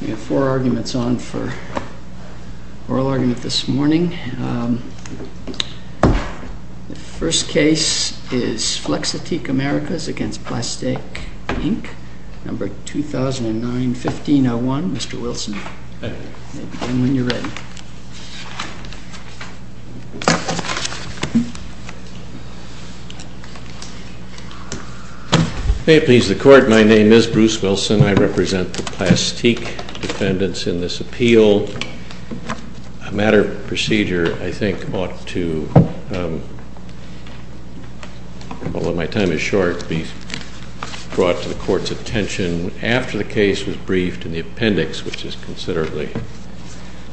We have four arguments on for oral argument this morning. The first case is FLEXITEEK AMERICAS v. PLASTEAK INC, number 2009-15-01. Mr. Wilson. May it please the court. My name is Bruce Wilson. I represent the Plastique defendants in this appeal. A matter of procedure, I think, ought to, although my time is short, be brought to the court's attention. After the case was briefed and the appendix, which is considerably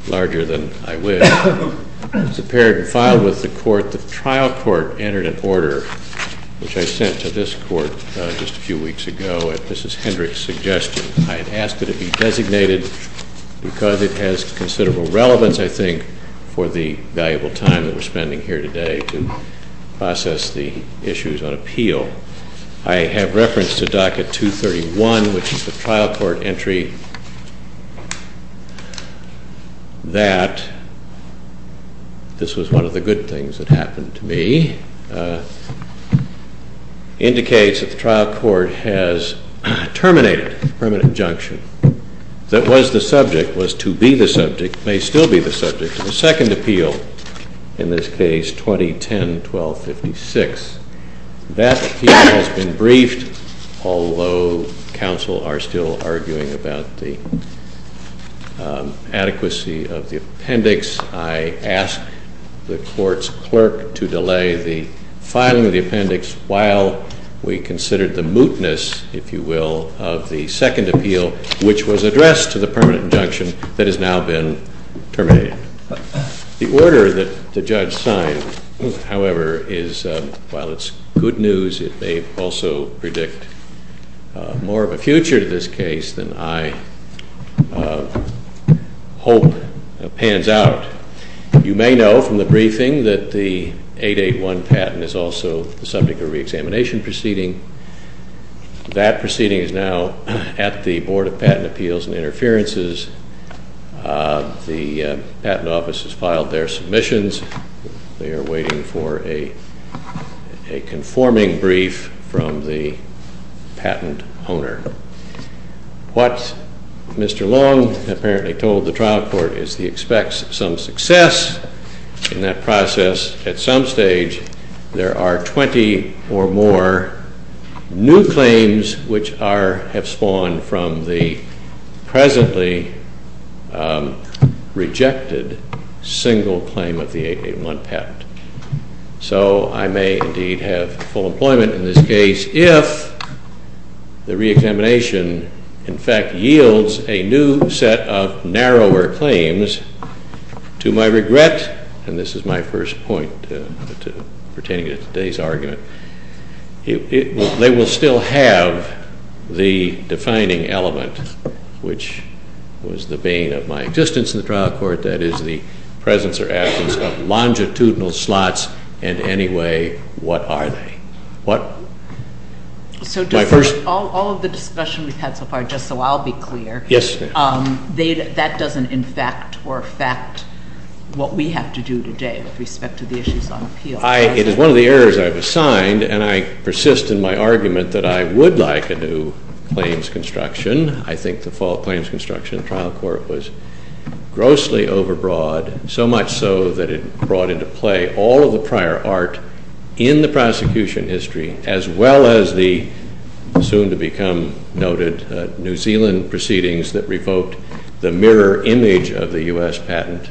larger than I wish, was appeared and filed with the court, the trial court entered an order, which I sent to this court just a few weeks ago. At Mrs. Hendricks' suggestion, I had asked that it be designated because it has considerable relevance, I think, for the valuable time that we're spending here today to process the issues on appeal. I have reference to docket 231, which is the trial court entry, that, this was one of the good things that happened to me, indicates that the trial court has terminated permanent injunction. That was the subject, was to be the subject, may still be the subject of a second appeal, in this case 2010-12-56. That appeal has been briefed, although counsel are still arguing about the adequacy of the appendix. I ask the court's clerk to delay the filing of the appendix while we consider the mootness, if you will, of the second appeal, which was addressed to the permanent injunction, that has now been terminated. The order that the judge signed, however, is, while it's good news, it may also predict more of a future to this case than I hope pans out. You may know from the briefing that the 881 patent is also the subject of re-examination proceeding. That proceeding is now at the Board of Patent Appeals and Interferences. The Patent Office has filed their submissions. They are waiting for a conforming brief from the patent owner. What Mr. Long apparently told the trial court is he expects some success in that process at some stage. There are 20 or more new claims which are, have spawned from the presently rejected single claim of the 881 patent. So I may indeed have full employment in this case if the re-examination, in fact, yields a new set of narrower claims. To my regret, and this is my first point pertaining to today's argument, they will still have the defining element, which was the bane of my existence in the trial court, that is the presence or absence of longitudinal slots in any way. What are they? So does all of the discussion we've had so far, just so I'll be clear, that doesn't in fact or affect what we have to do today with respect to the issues on appeal? It is one of the areas I've assigned and I persist in my argument that I would like a new claims construction. I think the fall claims construction trial court was grossly overbroad, so much so that it brought into play all of the prior art in the prosecution history as well as the soon to become noted New Zealand proceedings that revoked the mirror image of the U.S. patent.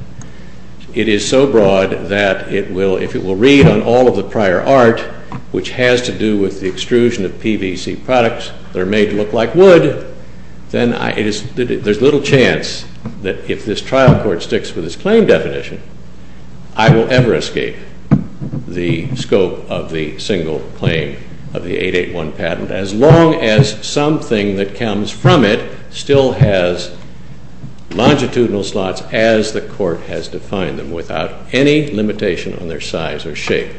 It is so broad that if it will read on all of the prior art, which has to do with the extrusion of PVC products that are made to look like wood, then there's little chance that if this trial court sticks with its claim definition, I will ever escape the scope of the single claim of the 881 patent as long as something that comes from it still has longitudinal slots as the court has defined them without any limitation on their size or shape.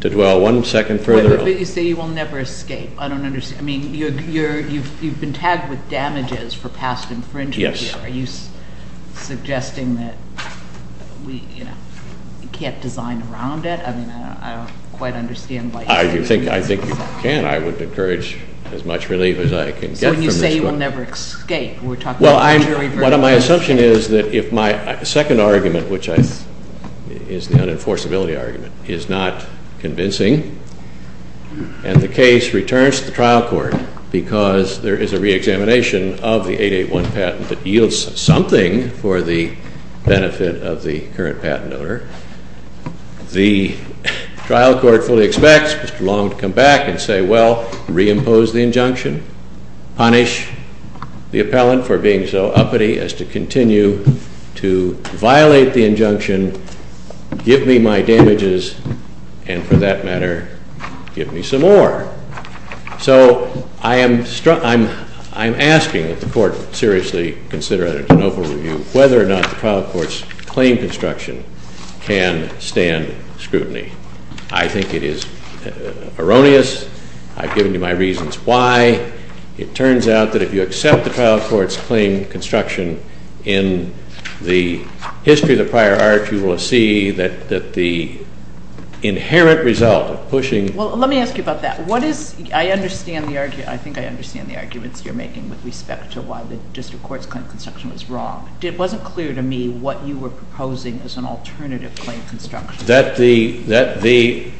To dwell one second further... But you say you will never escape. I don't understand. I mean, you've been tagged with damages for past infringement. Yes. Are you suggesting that we can't design around it? I mean, I don't quite understand why... I think you can. I would encourage as much relief as I can get from this court. So when you say you will never escape, we're talking about injury versus... Well, my assumption is that if my second argument, which is the unenforceability argument, is not convincing, and the case returns to the trial court because there is a reexamination of the 881 patent that yields something for the benefit of the current patent owner, the trial court fully expects Mr. Long to come back and say, well, reimpose the injunction, punish the appellant for being so uppity as to continue to violate the injunction, give me my damages, and for that matter, give me some more. So I am asking that the court seriously consider, and it's an open review, whether or not the trial court's claim construction can stand scrutiny. I think it is erroneous. I've given you my reasons why. It turns out that if you accept the trial court's claim construction in the history of the prior art, you will see that the inherent result of pushing... Well, let me ask you about that. I think I understand the arguments you're making with respect to why the district court's claim construction was wrong. It wasn't clear to me what you were proposing as an alternative claim construction. That the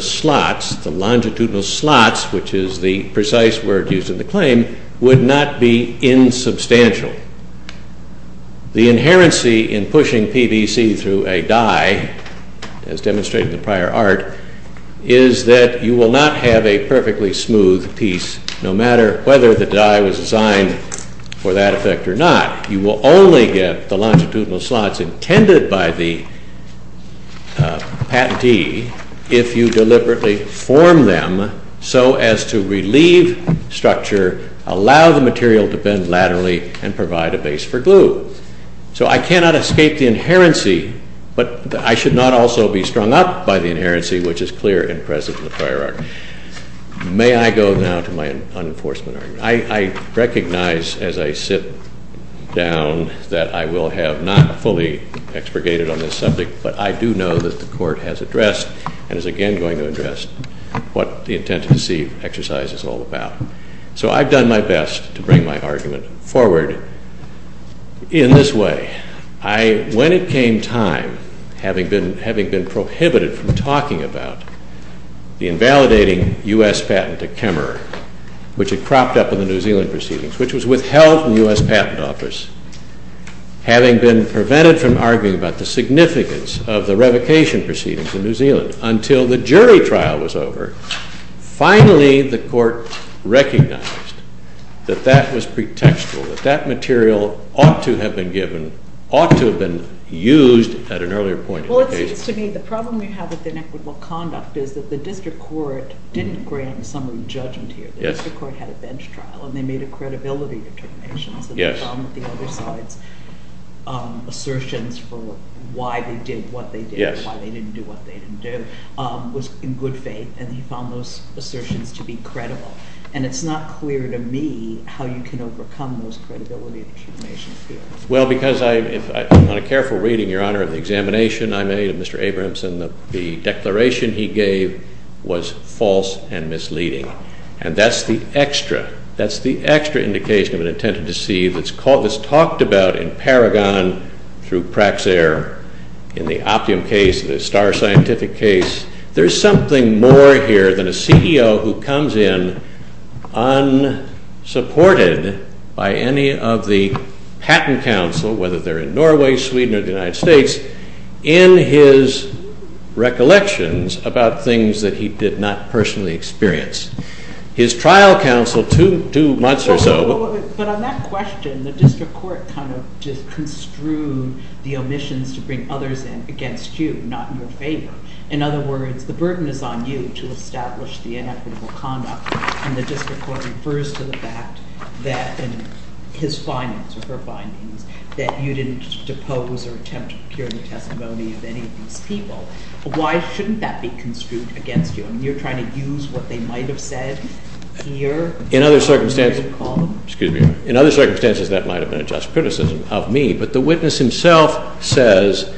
slots, the longitudinal slots, which is the precise word used in the claim, would not be insubstantial. The inherency in pushing PBC through a die, as demonstrated in the prior art, is that you will not have a perfectly smooth piece no matter whether the die was designed for that effect or not. You will only get the longitudinal slots intended by the patentee if you deliberately form them so as to relieve structure, allow the material to bend laterally, and provide a base for glue. So I cannot escape the inherency, but I should not also be strung up by the inherency which is clear and present in the prior art. May I go now to my unenforcement argument? I recognize as I sit down that I will have not fully expurgated on this subject, but I do know that the court has addressed, and is again going to address, what the intent to deceive exercise is all about. So I've done my best to bring my argument forward in this way. When it came time, having been prohibited from talking about the invalidating U.S. patent at Kemmerer, which had cropped up in the New Zealand proceedings, which was withheld from the U.S. Patent Office, having been prevented from arguing about the significance of the revocation proceedings in New Zealand until the jury trial was over, finally the court recognized that that was pretextual, that that material ought to have been given, ought to have been used at an earlier point in the case. Well, it seems to me the problem we have with inequitable conduct is that the district court didn't grant a summary judgment here. The district court had a bench trial, and they made a credibility determination, so they found that the other side's assertions for why they did what they did, why they didn't do what they didn't do, was in good faith, and he found those assertions to be credible. And it's not clear to me how you can overcome those credibility determinations. Well, because on a careful reading, Your Honor, of the examination I made of Mr. Abrahamson, the declaration he gave was false and misleading. And that's the extra. That's the extra indication of an intent to deceive that's talked about in Paragon, through Praxair, in the Opium case, the Starr Scientific case. There's something more here than a CEO who comes in unsupported by any of the patent counsel, whether they're in Norway, Sweden, or the United States, in his recollections about things that he did not personally experience. His trial counsel, two months or so... But on that question, the district court kind of just construed the omissions to bring others in against you, not in your favor. In other words, the burden is on you to establish the inequitable conduct, and the district court refers to the fact that in his findings, or her findings, that you didn't depose or attempt to procure the testimony of any of these people. Why shouldn't that be construed against you? I mean, you're trying to use what they might have said here... In other circumstances... Excuse me. In other circumstances, that might have been a just criticism of me, but the witness himself says,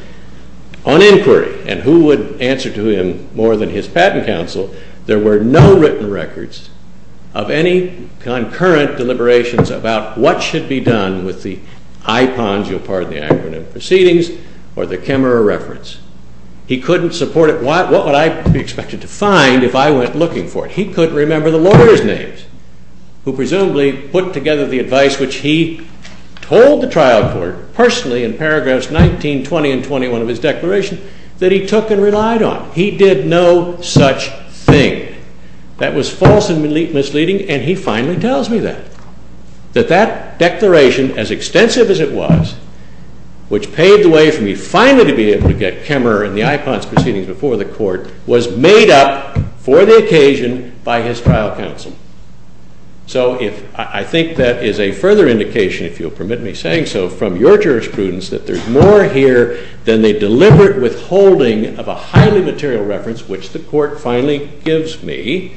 on inquiry, and who would answer to him more than his patent counsel, there were no written records of any concurrent deliberations about what should be done with the IPONs, you'll pardon the acronym, proceedings, or the Kemmerer reference. He couldn't support it. What would I be expected to find if I went looking for it? He couldn't remember the lawyers' names, who presumably put together the advice which he told the trial court, personally, in paragraphs 19, 20, and 21 of his declaration, that he took and relied on. He did no such thing. That was false and misleading, and he finally tells me that. That that declaration, as extensive as it was, which paved the way for me finally to be able to get Kemmerer and the IPONs proceedings before the court, was made up, for the occasion, by his trial counsel. So, I think that is a further indication, if you'll permit me saying so, from your jurisprudence, that there's more here than the deliberate withholding of a highly material reference, which the court finally gives me,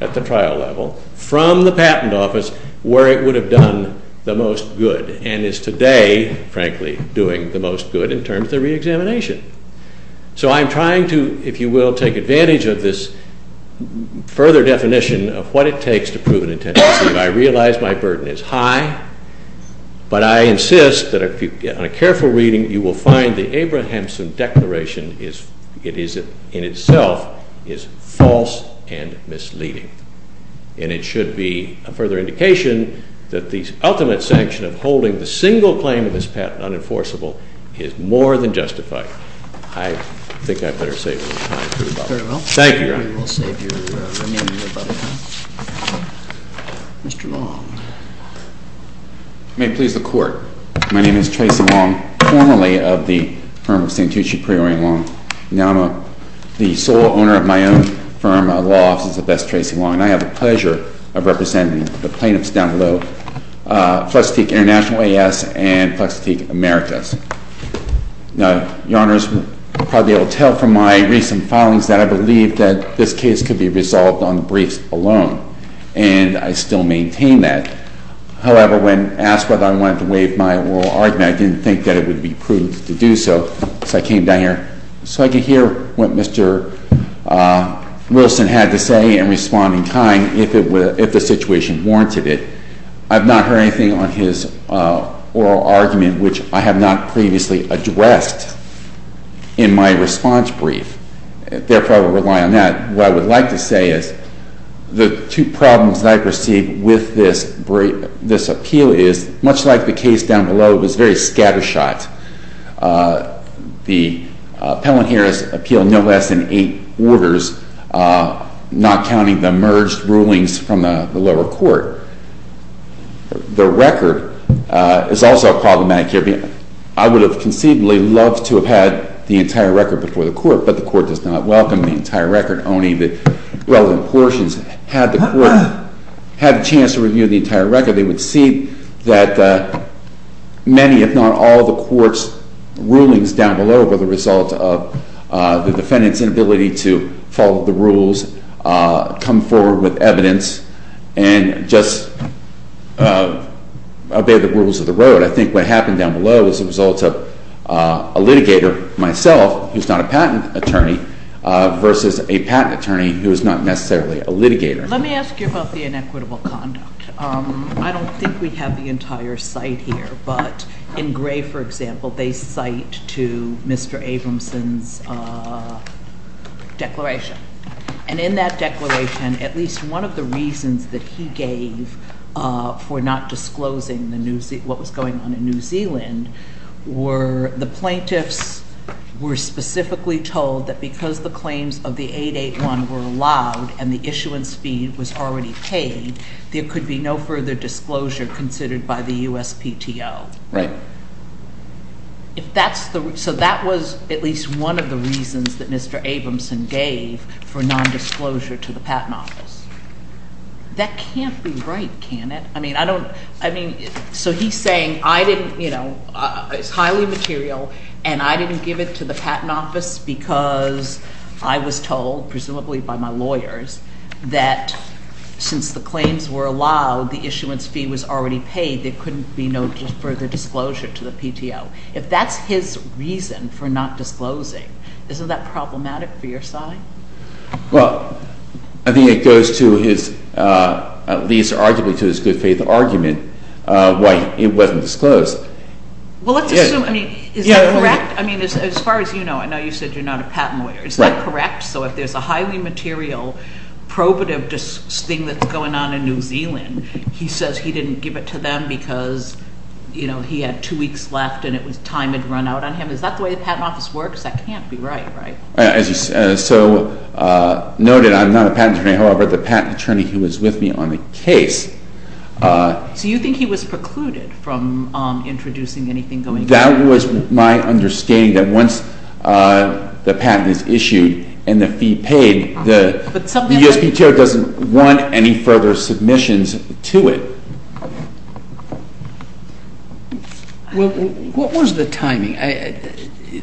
at the trial level, from the patent office, where it would have done the most good, and is today, frankly, doing the most good in terms of the reexamination. So, I'm trying to, if you will, take advantage of this further definition of what it takes to prove an intention. I realize my burden is high, but I insist that, on a careful reading, you will find the Abrahamson declaration is, in itself, is false and misleading. And it should be a further indication that the ultimate sanction of holding the single claim of this patent unenforceable is more than justified. I think I'd better save your time. Very well. Thank you, Your Honor. We will save your remaining time. Mr. Long. May it please the Court. My name is Tracy Long, formerly of the firm of St. Tucci Priory & Long. Now I'm the sole owner of my own firm, a law office, the Best Tracy Long, and I have the pleasure of representing the plaintiffs down below, Flex-A-Teek International A.S. and Flex-A-Teek Americas. Now, Your Honor, you'll probably be able to tell from my recent filings that I believe that this case could be resolved on briefs alone, and I still maintain that. However, when asked whether I wanted to waive my oral argument, I didn't think that it would be prudent to do so, so I came down here so I could hear what Mr. Wilson had to say and respond in time if the situation warranted it. I've not heard anything on his oral argument, which I have not previously addressed in my response brief. Therefore, I will rely on that. What I would like to say is the two problems that I've received with this appeal is, much like the case down below, it was very scattershot. The appellant here has appealed no less than eight orders, not counting the merged rulings from the lower court. The record is also problematic here. I would have conceivably loved to have had the entire record before the court, but the court does not welcome the entire record, only the relevant portions. Had the court had a chance to review the entire record, they would see that many, if not all, of the court's rulings down below were the result of the defendant's inability to follow the rules, come forward with evidence, and just obey the rules of the road. I think what happened down below was the result of a litigator, myself, who's not a patent attorney, versus a patent attorney who is not necessarily a litigator. Let me ask you about the inequitable conduct. I don't think we have the entire site here, but in gray, for example, they cite to Mr. Abramson's declaration, and in that declaration, at least one of the reasons that he gave for not disclosing what was going on in New Zealand were the plaintiffs were specifically told that because the claims of the 881 were allowed and the issuance fee was already paid, there could be no further disclosure considered by the USPTO. So that was at least one of the reasons that Mr. Abramson gave for non-disclosure to the Patent Office. That can't be right, can it? I mean, so he's saying, it's highly material, and I didn't give it to the Patent Office because I was told, presumably by my lawyers, that since the claims were allowed, the issuance fee was already paid, there couldn't be no further disclosure to the PTO. If that's his reason for not disclosing, isn't that problematic for your side? Well, I think it goes to his, at least arguably to his good faith argument, why it wasn't disclosed. Well, let's assume, I mean, is that correct? I mean, as far as you know, I know you said you're not a patent lawyer. Is that correct? So if there's a highly material probative thing that's going on in New Zealand, he says he didn't give it to them because he had two weeks left and time had run out on him. Is that the way the Patent Office works? That can't be right, right? As you noted, I'm not a patent attorney. However, the patent attorney who was with me on the case... So you think he was precluded from introducing anything going on? That was my understanding, that once the patent is issued and the fee paid, the USPTO doesn't want any further submissions to it. Well, what was the timing?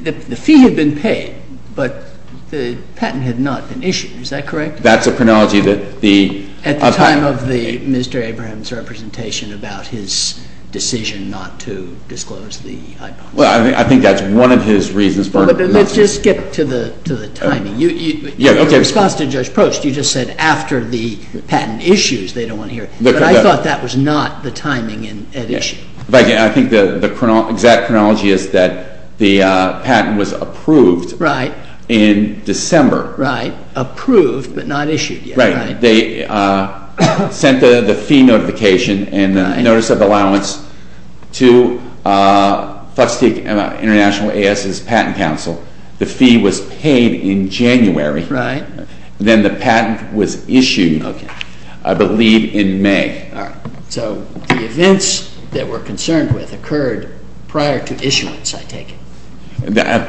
The fee had been paid, but the patent had not been issued. Is that correct? That's a chronology that the... At the time of Mr. Abraham's representation about his decision not to disclose the iPod. Well, I think that's one of his reasons for... Let's just get to the timing. In response to Judge Prost, you just said after the patent issues, they don't want to hear it. But I thought that was not the timing at issue. I think the exact chronology is that the patent was approved in December. Right. Approved, but not issued yet. They sent the fee notification and the notice of allowance to FTSEC International, AS's Patent Council. The fee was paid in January. Right. Then the patent was issued, I believe, in May. All right. So the events that we're concerned with occurred prior to issuance, I take it?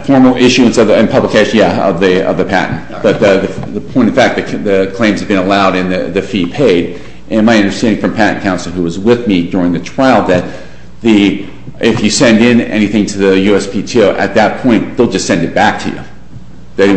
Formal issuance and publication, yeah, of the patent. But the point, in fact, the claims have been allowed and the fee paid. And my understanding from Patent Council, who was with me during the trial, that if you send in anything to the USPTO, at that point, they'll just send it back to you. How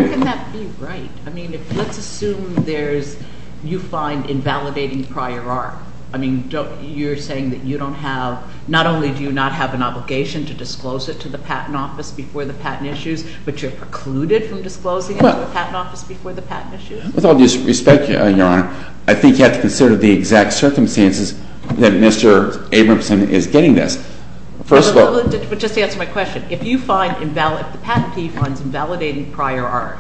can that be right? I mean, let's assume there's, you find invalidating prior art. I mean, you're saying that you don't have, not only do you not have an obligation to disclose it to the Patent Office before the patent issues, but you're precluded from disclosing it to the Patent Office before the patent issues? With all due respect, Your Honor, I think you have to consider the exact circumstances that Mr. Abramson is getting this. First of all... But just to answer my question, if you find invalidating prior art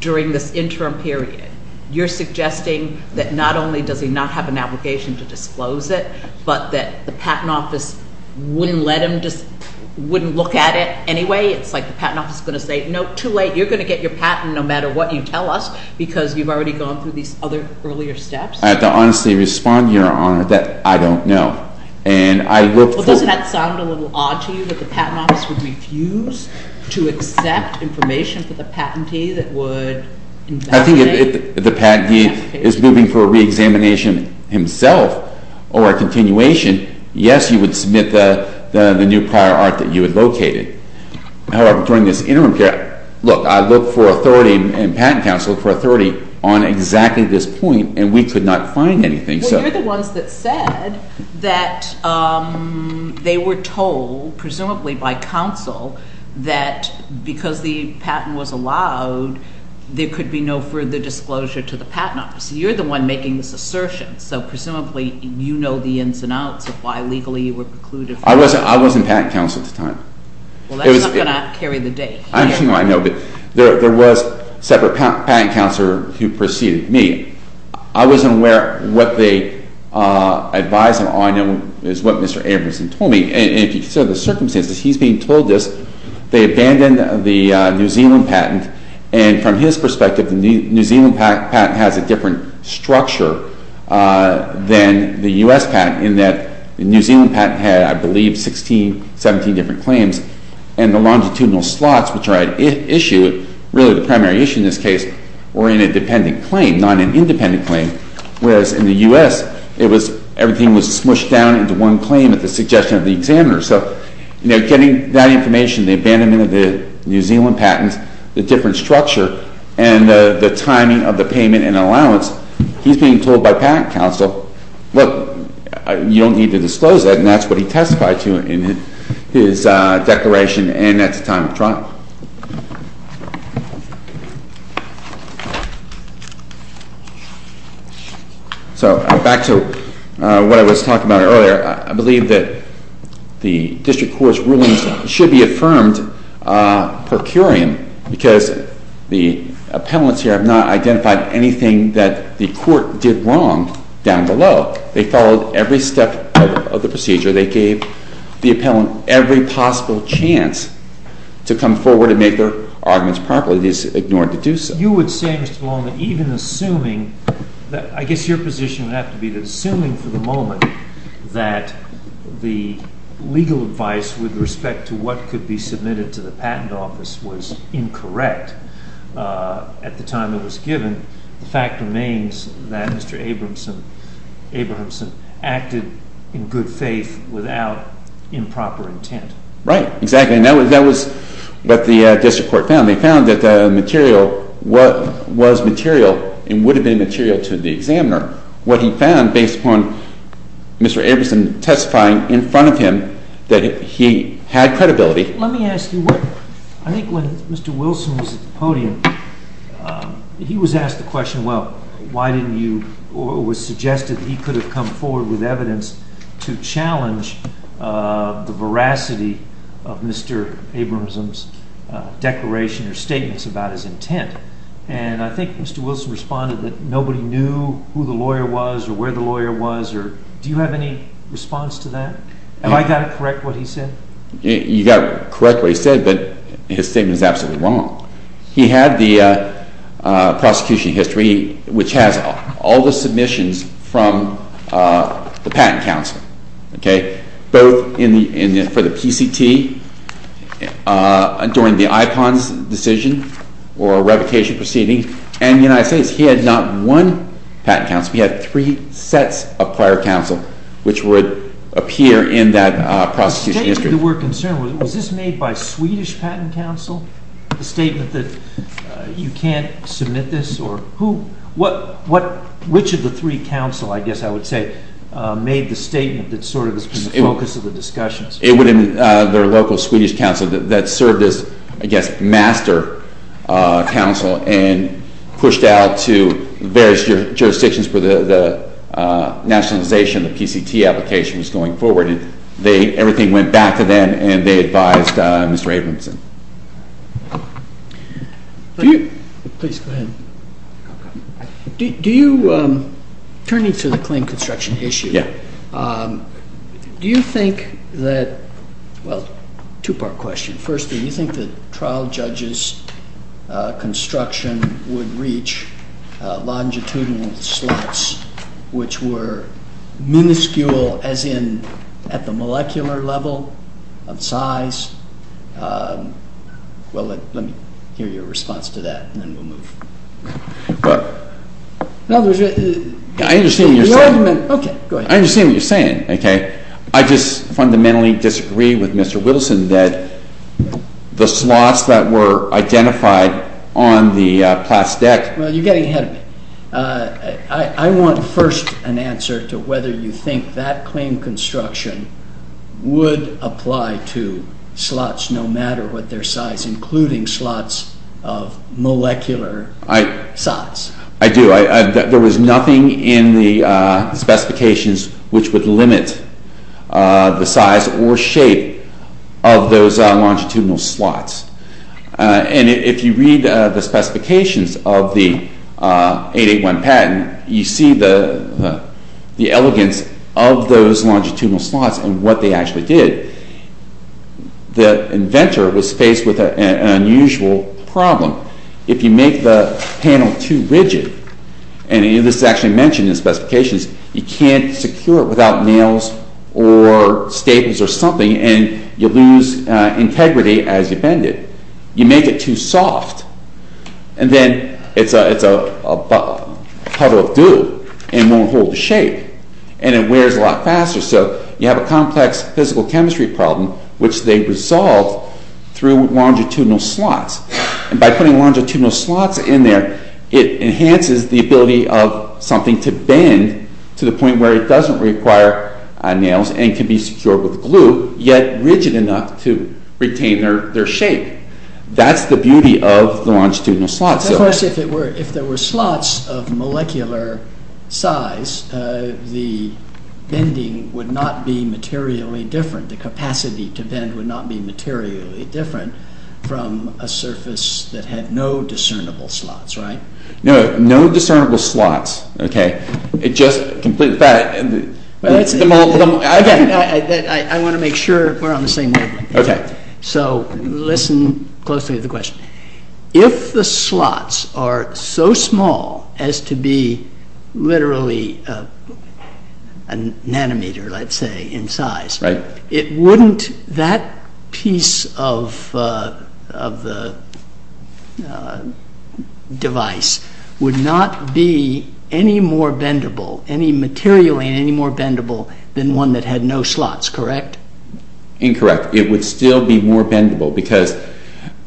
during this interim period, you're suggesting that, not only does he not have an obligation to disclose it, but that the Patent Office wouldn't let him, wouldn't look at it anyway? It's like the Patent Office is going to say, no, too late. You're going to get your patent no matter what you tell us because you've already gone through these other earlier steps? I have to honestly respond, Your Honor, that I don't know. And I look for... Well, doesn't that sound a little odd to you, that the Patent Office would refuse to accept information for the patentee that would invalidate... I think if the patentee is moving for a re-examination himself or a continuation, yes, you would submit the new prior art that you had located. However, during this interim period, look, I look for authority and Patent Counsel look for authority on exactly this point, and we could not find anything. Well, you're the ones that said that they were told, presumably by counsel, that because the patent was allowed, there could be no further disclosure to the Patent Office. You're the one making this assertion, so presumably you know the ins and outs of why legally you were precluded from... I wasn't Patent Counsel at the time. Well, that's not going to carry the date. I know, but there was a separate Patent Counselor who preceded me. I wasn't aware what they advised them. All I know is what Mr. Abramson told me. And if you consider the circumstances, he's being told this. They abandoned the New Zealand patent, and from his perspective, the New Zealand patent has a different structure than the U.S. patent in that the New Zealand patent had, I believe, 16, 17 different claims, and the longitudinal slots, which are at issue, really the primary issue in this case, were in a dependent claim, not an independent claim, whereas in the U.S. it was... everything was smushed down into one claim at the suggestion of the examiner. So, you know, getting that information, the abandonment of the New Zealand patent, the different structure, and the timing of the payment and allowance, he's being told by Patent Counsel, look, you don't need to disclose that, and that's what he testified to in his declaration, and that's the time of trial. So back to what I was talking about earlier. I believe that the district court's rulings should be affirmed per curiam because the appellants here have not identified anything that the court did wrong down below. They followed every step of the procedure. They gave the appellant every possible chance to come forward and make their arguments properly. It is ignored to do so. You would say, Mr. Malone, that even assuming... I guess your position would have to be assuming for the moment that the legal advice with respect to what could be submitted to the patent office was incorrect at the time it was given, the fact remains that Mr. Abramson acted in good faith without improper intent. Right, exactly, and that was what the district court found. They found that the material was material and would have been material to the examiner. What he found, based upon Mr. Abramson testifying in front of him, that he had credibility... Let me ask you, I think when Mr. Wilson was at the podium, he was asked the question, well, why didn't you... it was suggested that he could have come forward with evidence to challenge the veracity of Mr. Abramson's declaration or statements about his intent, and I think Mr. Wilson responded that nobody knew who the lawyer was or where the lawyer was. Do you have any response to that? Have I got to correct what he said? You got to correct what he said, but his statement is absolutely wrong. He had the prosecution history, which has all the submissions from the Patent Council, both for the PCT during the IPONS decision or revocation proceeding, and the United States. He had not one Patent Council. He had three sets of prior counsel, which would appear in that prosecution history. The statement that we're concerned with, was this made by Swedish Patent Council, the statement that you can't submit this, or who... which of the three counsel, I guess I would say, made the statement that sort of was the focus of the discussion? It would have been their local Swedish counsel that served as, I guess, master counsel and pushed out to various jurisdictions where the nationalization of the PCT application was going forward, and everything went back to them, and they advised Mr. Abramson. Do you... Please, go ahead. Do you... Turning to the claim construction issue... Yeah. Do you think that... Well, two-part question. First, do you think that trial judges' construction would reach longitudinal slots, which were minuscule, as in at the molecular level of size? Well, let me hear your response to that, and then we'll move... No, there's... I understand what you're saying. Okay, go ahead. I understand what you're saying, okay? I just fundamentally disagree with Mr. Wilson that the slots that were identified on the PLAS deck... Well, you're getting ahead of me. I want first an answer to whether you think that claim construction would apply to slots, no matter what their size, including slots of molecular size. I do. There was nothing in the specifications which would limit the size or shape of those longitudinal slots. And if you read the specifications of the 881 patent, you see the elegance of those longitudinal slots and what they actually did. The inventor was faced with an unusual problem. If you make the panel too rigid, and this is actually mentioned in the specifications, you can't secure it without nails or staples or something, and you lose integrity as you bend it. You make it too soft, and then it's a puddle of dew, and it won't hold the shape, and it wears a lot faster. So you have a complex physical chemistry problem which they resolved through longitudinal slots. And by putting longitudinal slots in there, it enhances the ability of something to bend to the point where it doesn't require nails and can be secured with glue, yet rigid enough to retain their shape. That's the beauty of the longitudinal slots. Of course, if there were slots of molecular size, the bending would not be materially different. The capacity to bend would not be materially different from a surface that had no discernible slots, right? No discernible slots. It just completely... I want to make sure we're on the same wavelength. So listen closely to the question. If the slots are so small as to be literally a nanometer, let's say, in size, that piece of the device would not be any more bendable, any materially any more bendable than one that had no slots, correct? Incorrect. It would still be more bendable, because...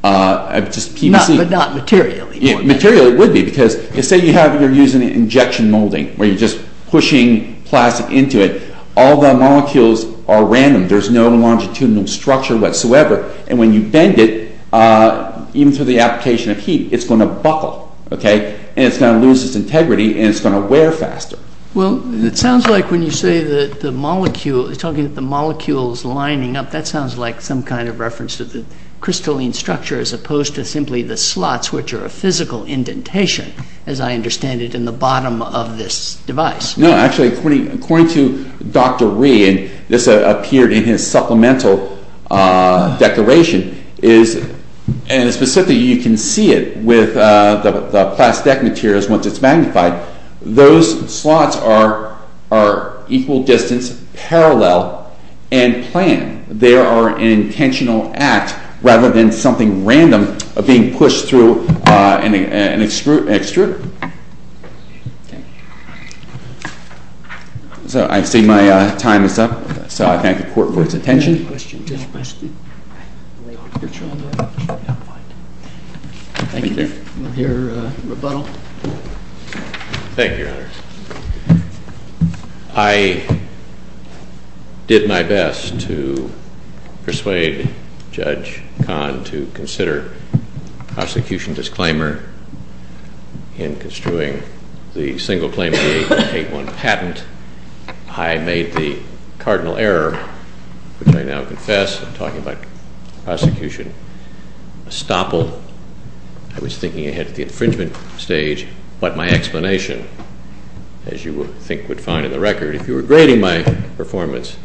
But not materially. Materially it would be, because say you're using injection molding, where you're just pushing plastic into it. All the molecules are random. There's no longitudinal structure whatsoever. And when you bend it, even through the application of heat, it's going to buckle, okay? And it's going to lose its integrity, and it's going to wear faster. Well, it sounds like when you say that the molecule... You're talking about the molecules lining up. That sounds like some kind of reference to the crystalline structure as opposed to simply the slots, which are a physical indentation, as I understand it, in the bottom of this device. No, actually, according to Dr. Rhee, and this appeared in his supplemental declaration, is... And specifically, you can see it with the plastic materials once it's magnified. Those slots are equal distance, parallel, and planned. They are an intentional act rather than something random being pushed through an extruder. So, I see my time is up. So, I thank the court for its attention. Any questions? Thank you. We'll hear rebuttal. Thank you, Your Honor. I did my best to persuade Judge Kahn to consider prosecution disclaimer in construing the single claim of the 8181 patent. I made the cardinal error, which I now confess. I'm talking about prosecution estoppel. I was thinking ahead to the infringement stage, but my explanation, as you think would find in the record if you were grading my performance,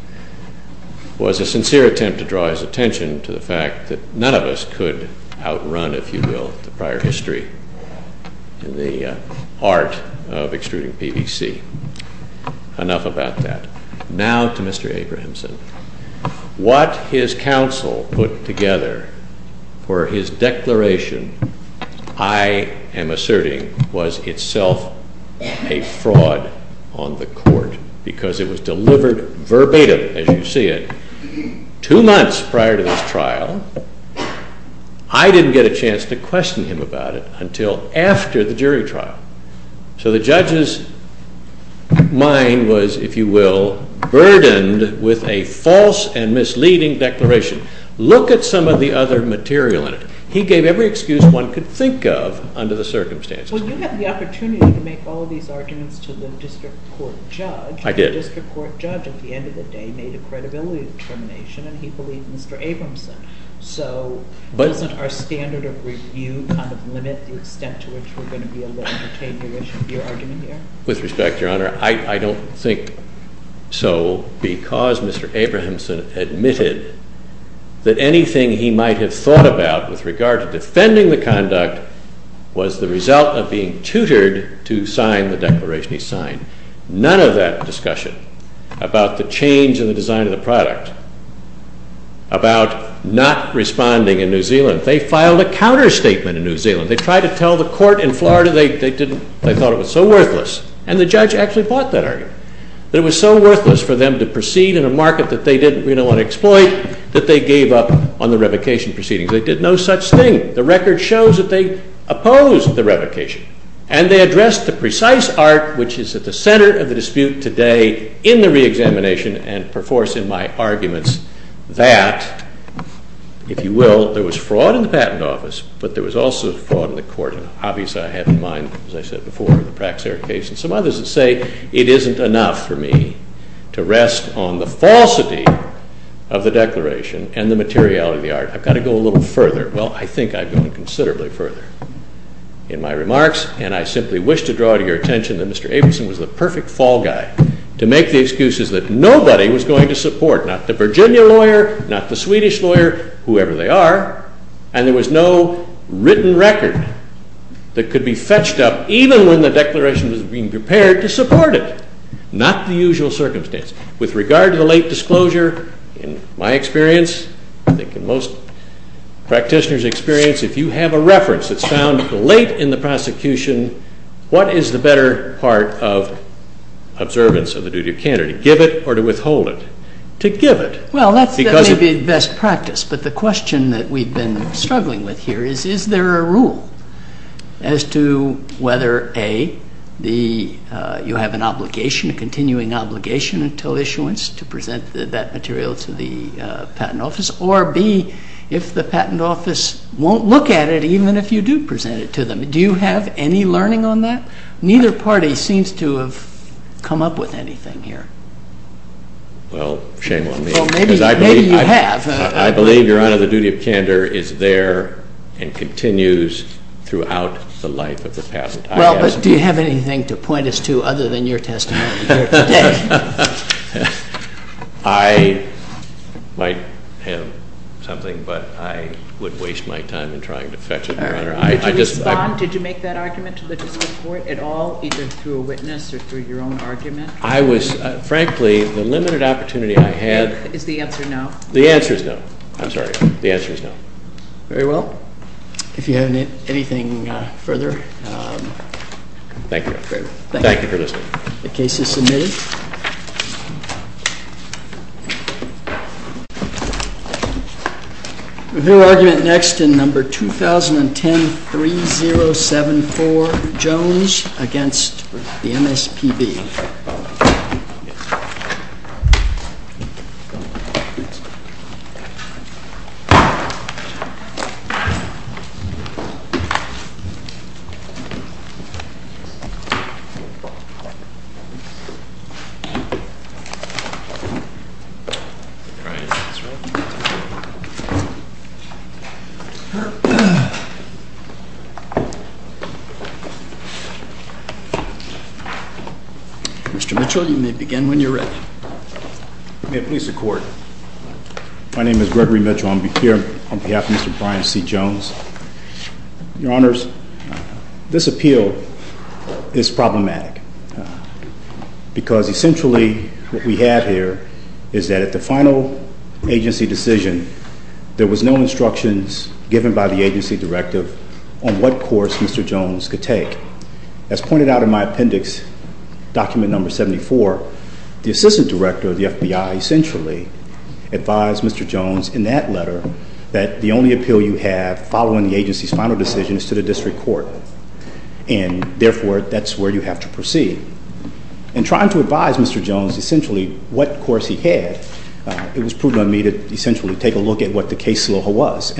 was a sincere attempt to draw his attention to the fact that none of us could outrun, if you will, the prior history in the art of extruding PVC. Enough about that. Now to Mr. Abrahamson. What his counsel put together for his declaration, I am asserting, was itself a fraud on the court because it was delivered verbatim, as you see it, two months prior to this trial. I didn't get a chance to question him about it until after the jury trial. So the judge's mind was, if you will, burdened with a false and misleading declaration. Look at some of the other material in it. He gave every excuse one could think of under the circumstances. Well, you had the opportunity to make all of these arguments to the district court judge. I did. The district court judge, at the end of the day, made a credibility determination and he believed Mr. Abrahamson. So doesn't our standard of review kind of limit the extent to which we're going to be able to take your argument here? With respect, Your Honor, I don't think so because Mr. Abrahamson admitted that anything he might have thought about with regard to defending the conduct was the result of being tutored to sign the declaration he signed. None of that discussion about the change in the design of the product about not responding in New Zealand. They filed a counter-statement in New Zealand. They tried to tell the court in Florida they thought it was so worthless and the judge actually bought that argument that it was so worthless for them to proceed in a market that they didn't really want to exploit that they gave up on the revocation proceedings. They did no such thing. The record shows that they opposed the revocation and they addressed the precise art which is at the center of the dispute today in the re-examination and perforce in my arguments that, if you will, there was fraud in the patent office but there was also fraud in the court and obviously I had in mind, as I said before, the Praxair case and some others that say it isn't enough for me to rest on the falsity of the declaration and the materiality of the art. I've got to go a little further. Well, I think I've gone considerably further in my remarks and I simply wish to draw to your attention that Mr. Abrahamson was the perfect fall guy to make the excuses that nobody was going to support, not the Virginia lawyer, not the Swedish lawyer, whoever they are, and there was no written record that could be fetched up even when the declaration was being prepared to support it. Not the usual circumstance. With regard to the late disclosure, in my experience, I think in most practitioners' experience, if you have a reference that's found late in the prosecution, what is the better part of observance of the duty of candor? To give it or to withhold it? To give it. Well, that may be best practice, but the question that we've been struggling with here is is there a rule as to whether, A, you have an obligation, a continuing obligation until issuance to present that material to the patent office, or, B, if the patent office won't look at it even if you do present it to them, do you have any learning on that? Neither party seems to have come up with anything here. Well, shame on me. Well, maybe you have. I believe, Your Honor, the duty of candor is there and continues throughout the life of the patent. Well, but do you have anything to point us to other than your testimony here today? but I would waste my time in trying to fetch it, Your Honor. Did you respond? Did you make that argument to the district court at all, either through a witness or through your own argument? Frankly, the limited opportunity I had... Is the answer no? The answer is no. I'm sorry. The answer is no. Very well. If you have anything further... Thank you. Thank you for listening. The case is submitted. We'll hear argument next in number 2010-3074, Jones, against the MSPB. Mr. Mitchell, you may begin when you're ready. May it please the Court. My name is Gregory Mitchell. I'm here on behalf of Mr. Brian C. Jones. in the public eye for a long time. because essentially what we have here is that at the final agency decision, there was no instructions given by the agency directive on what course Mr. Jones could take. As pointed out in my appendix, document number 74, the assistant director of the FBI essentially advised Mr. Jones in that letter that the only appeal you have following the agency's final decision is to the district court. And therefore, that's where you have to proceed. In trying to advise Mr. Jones essentially what course he had, it was prudent on me to essentially take a look at what the case logo was.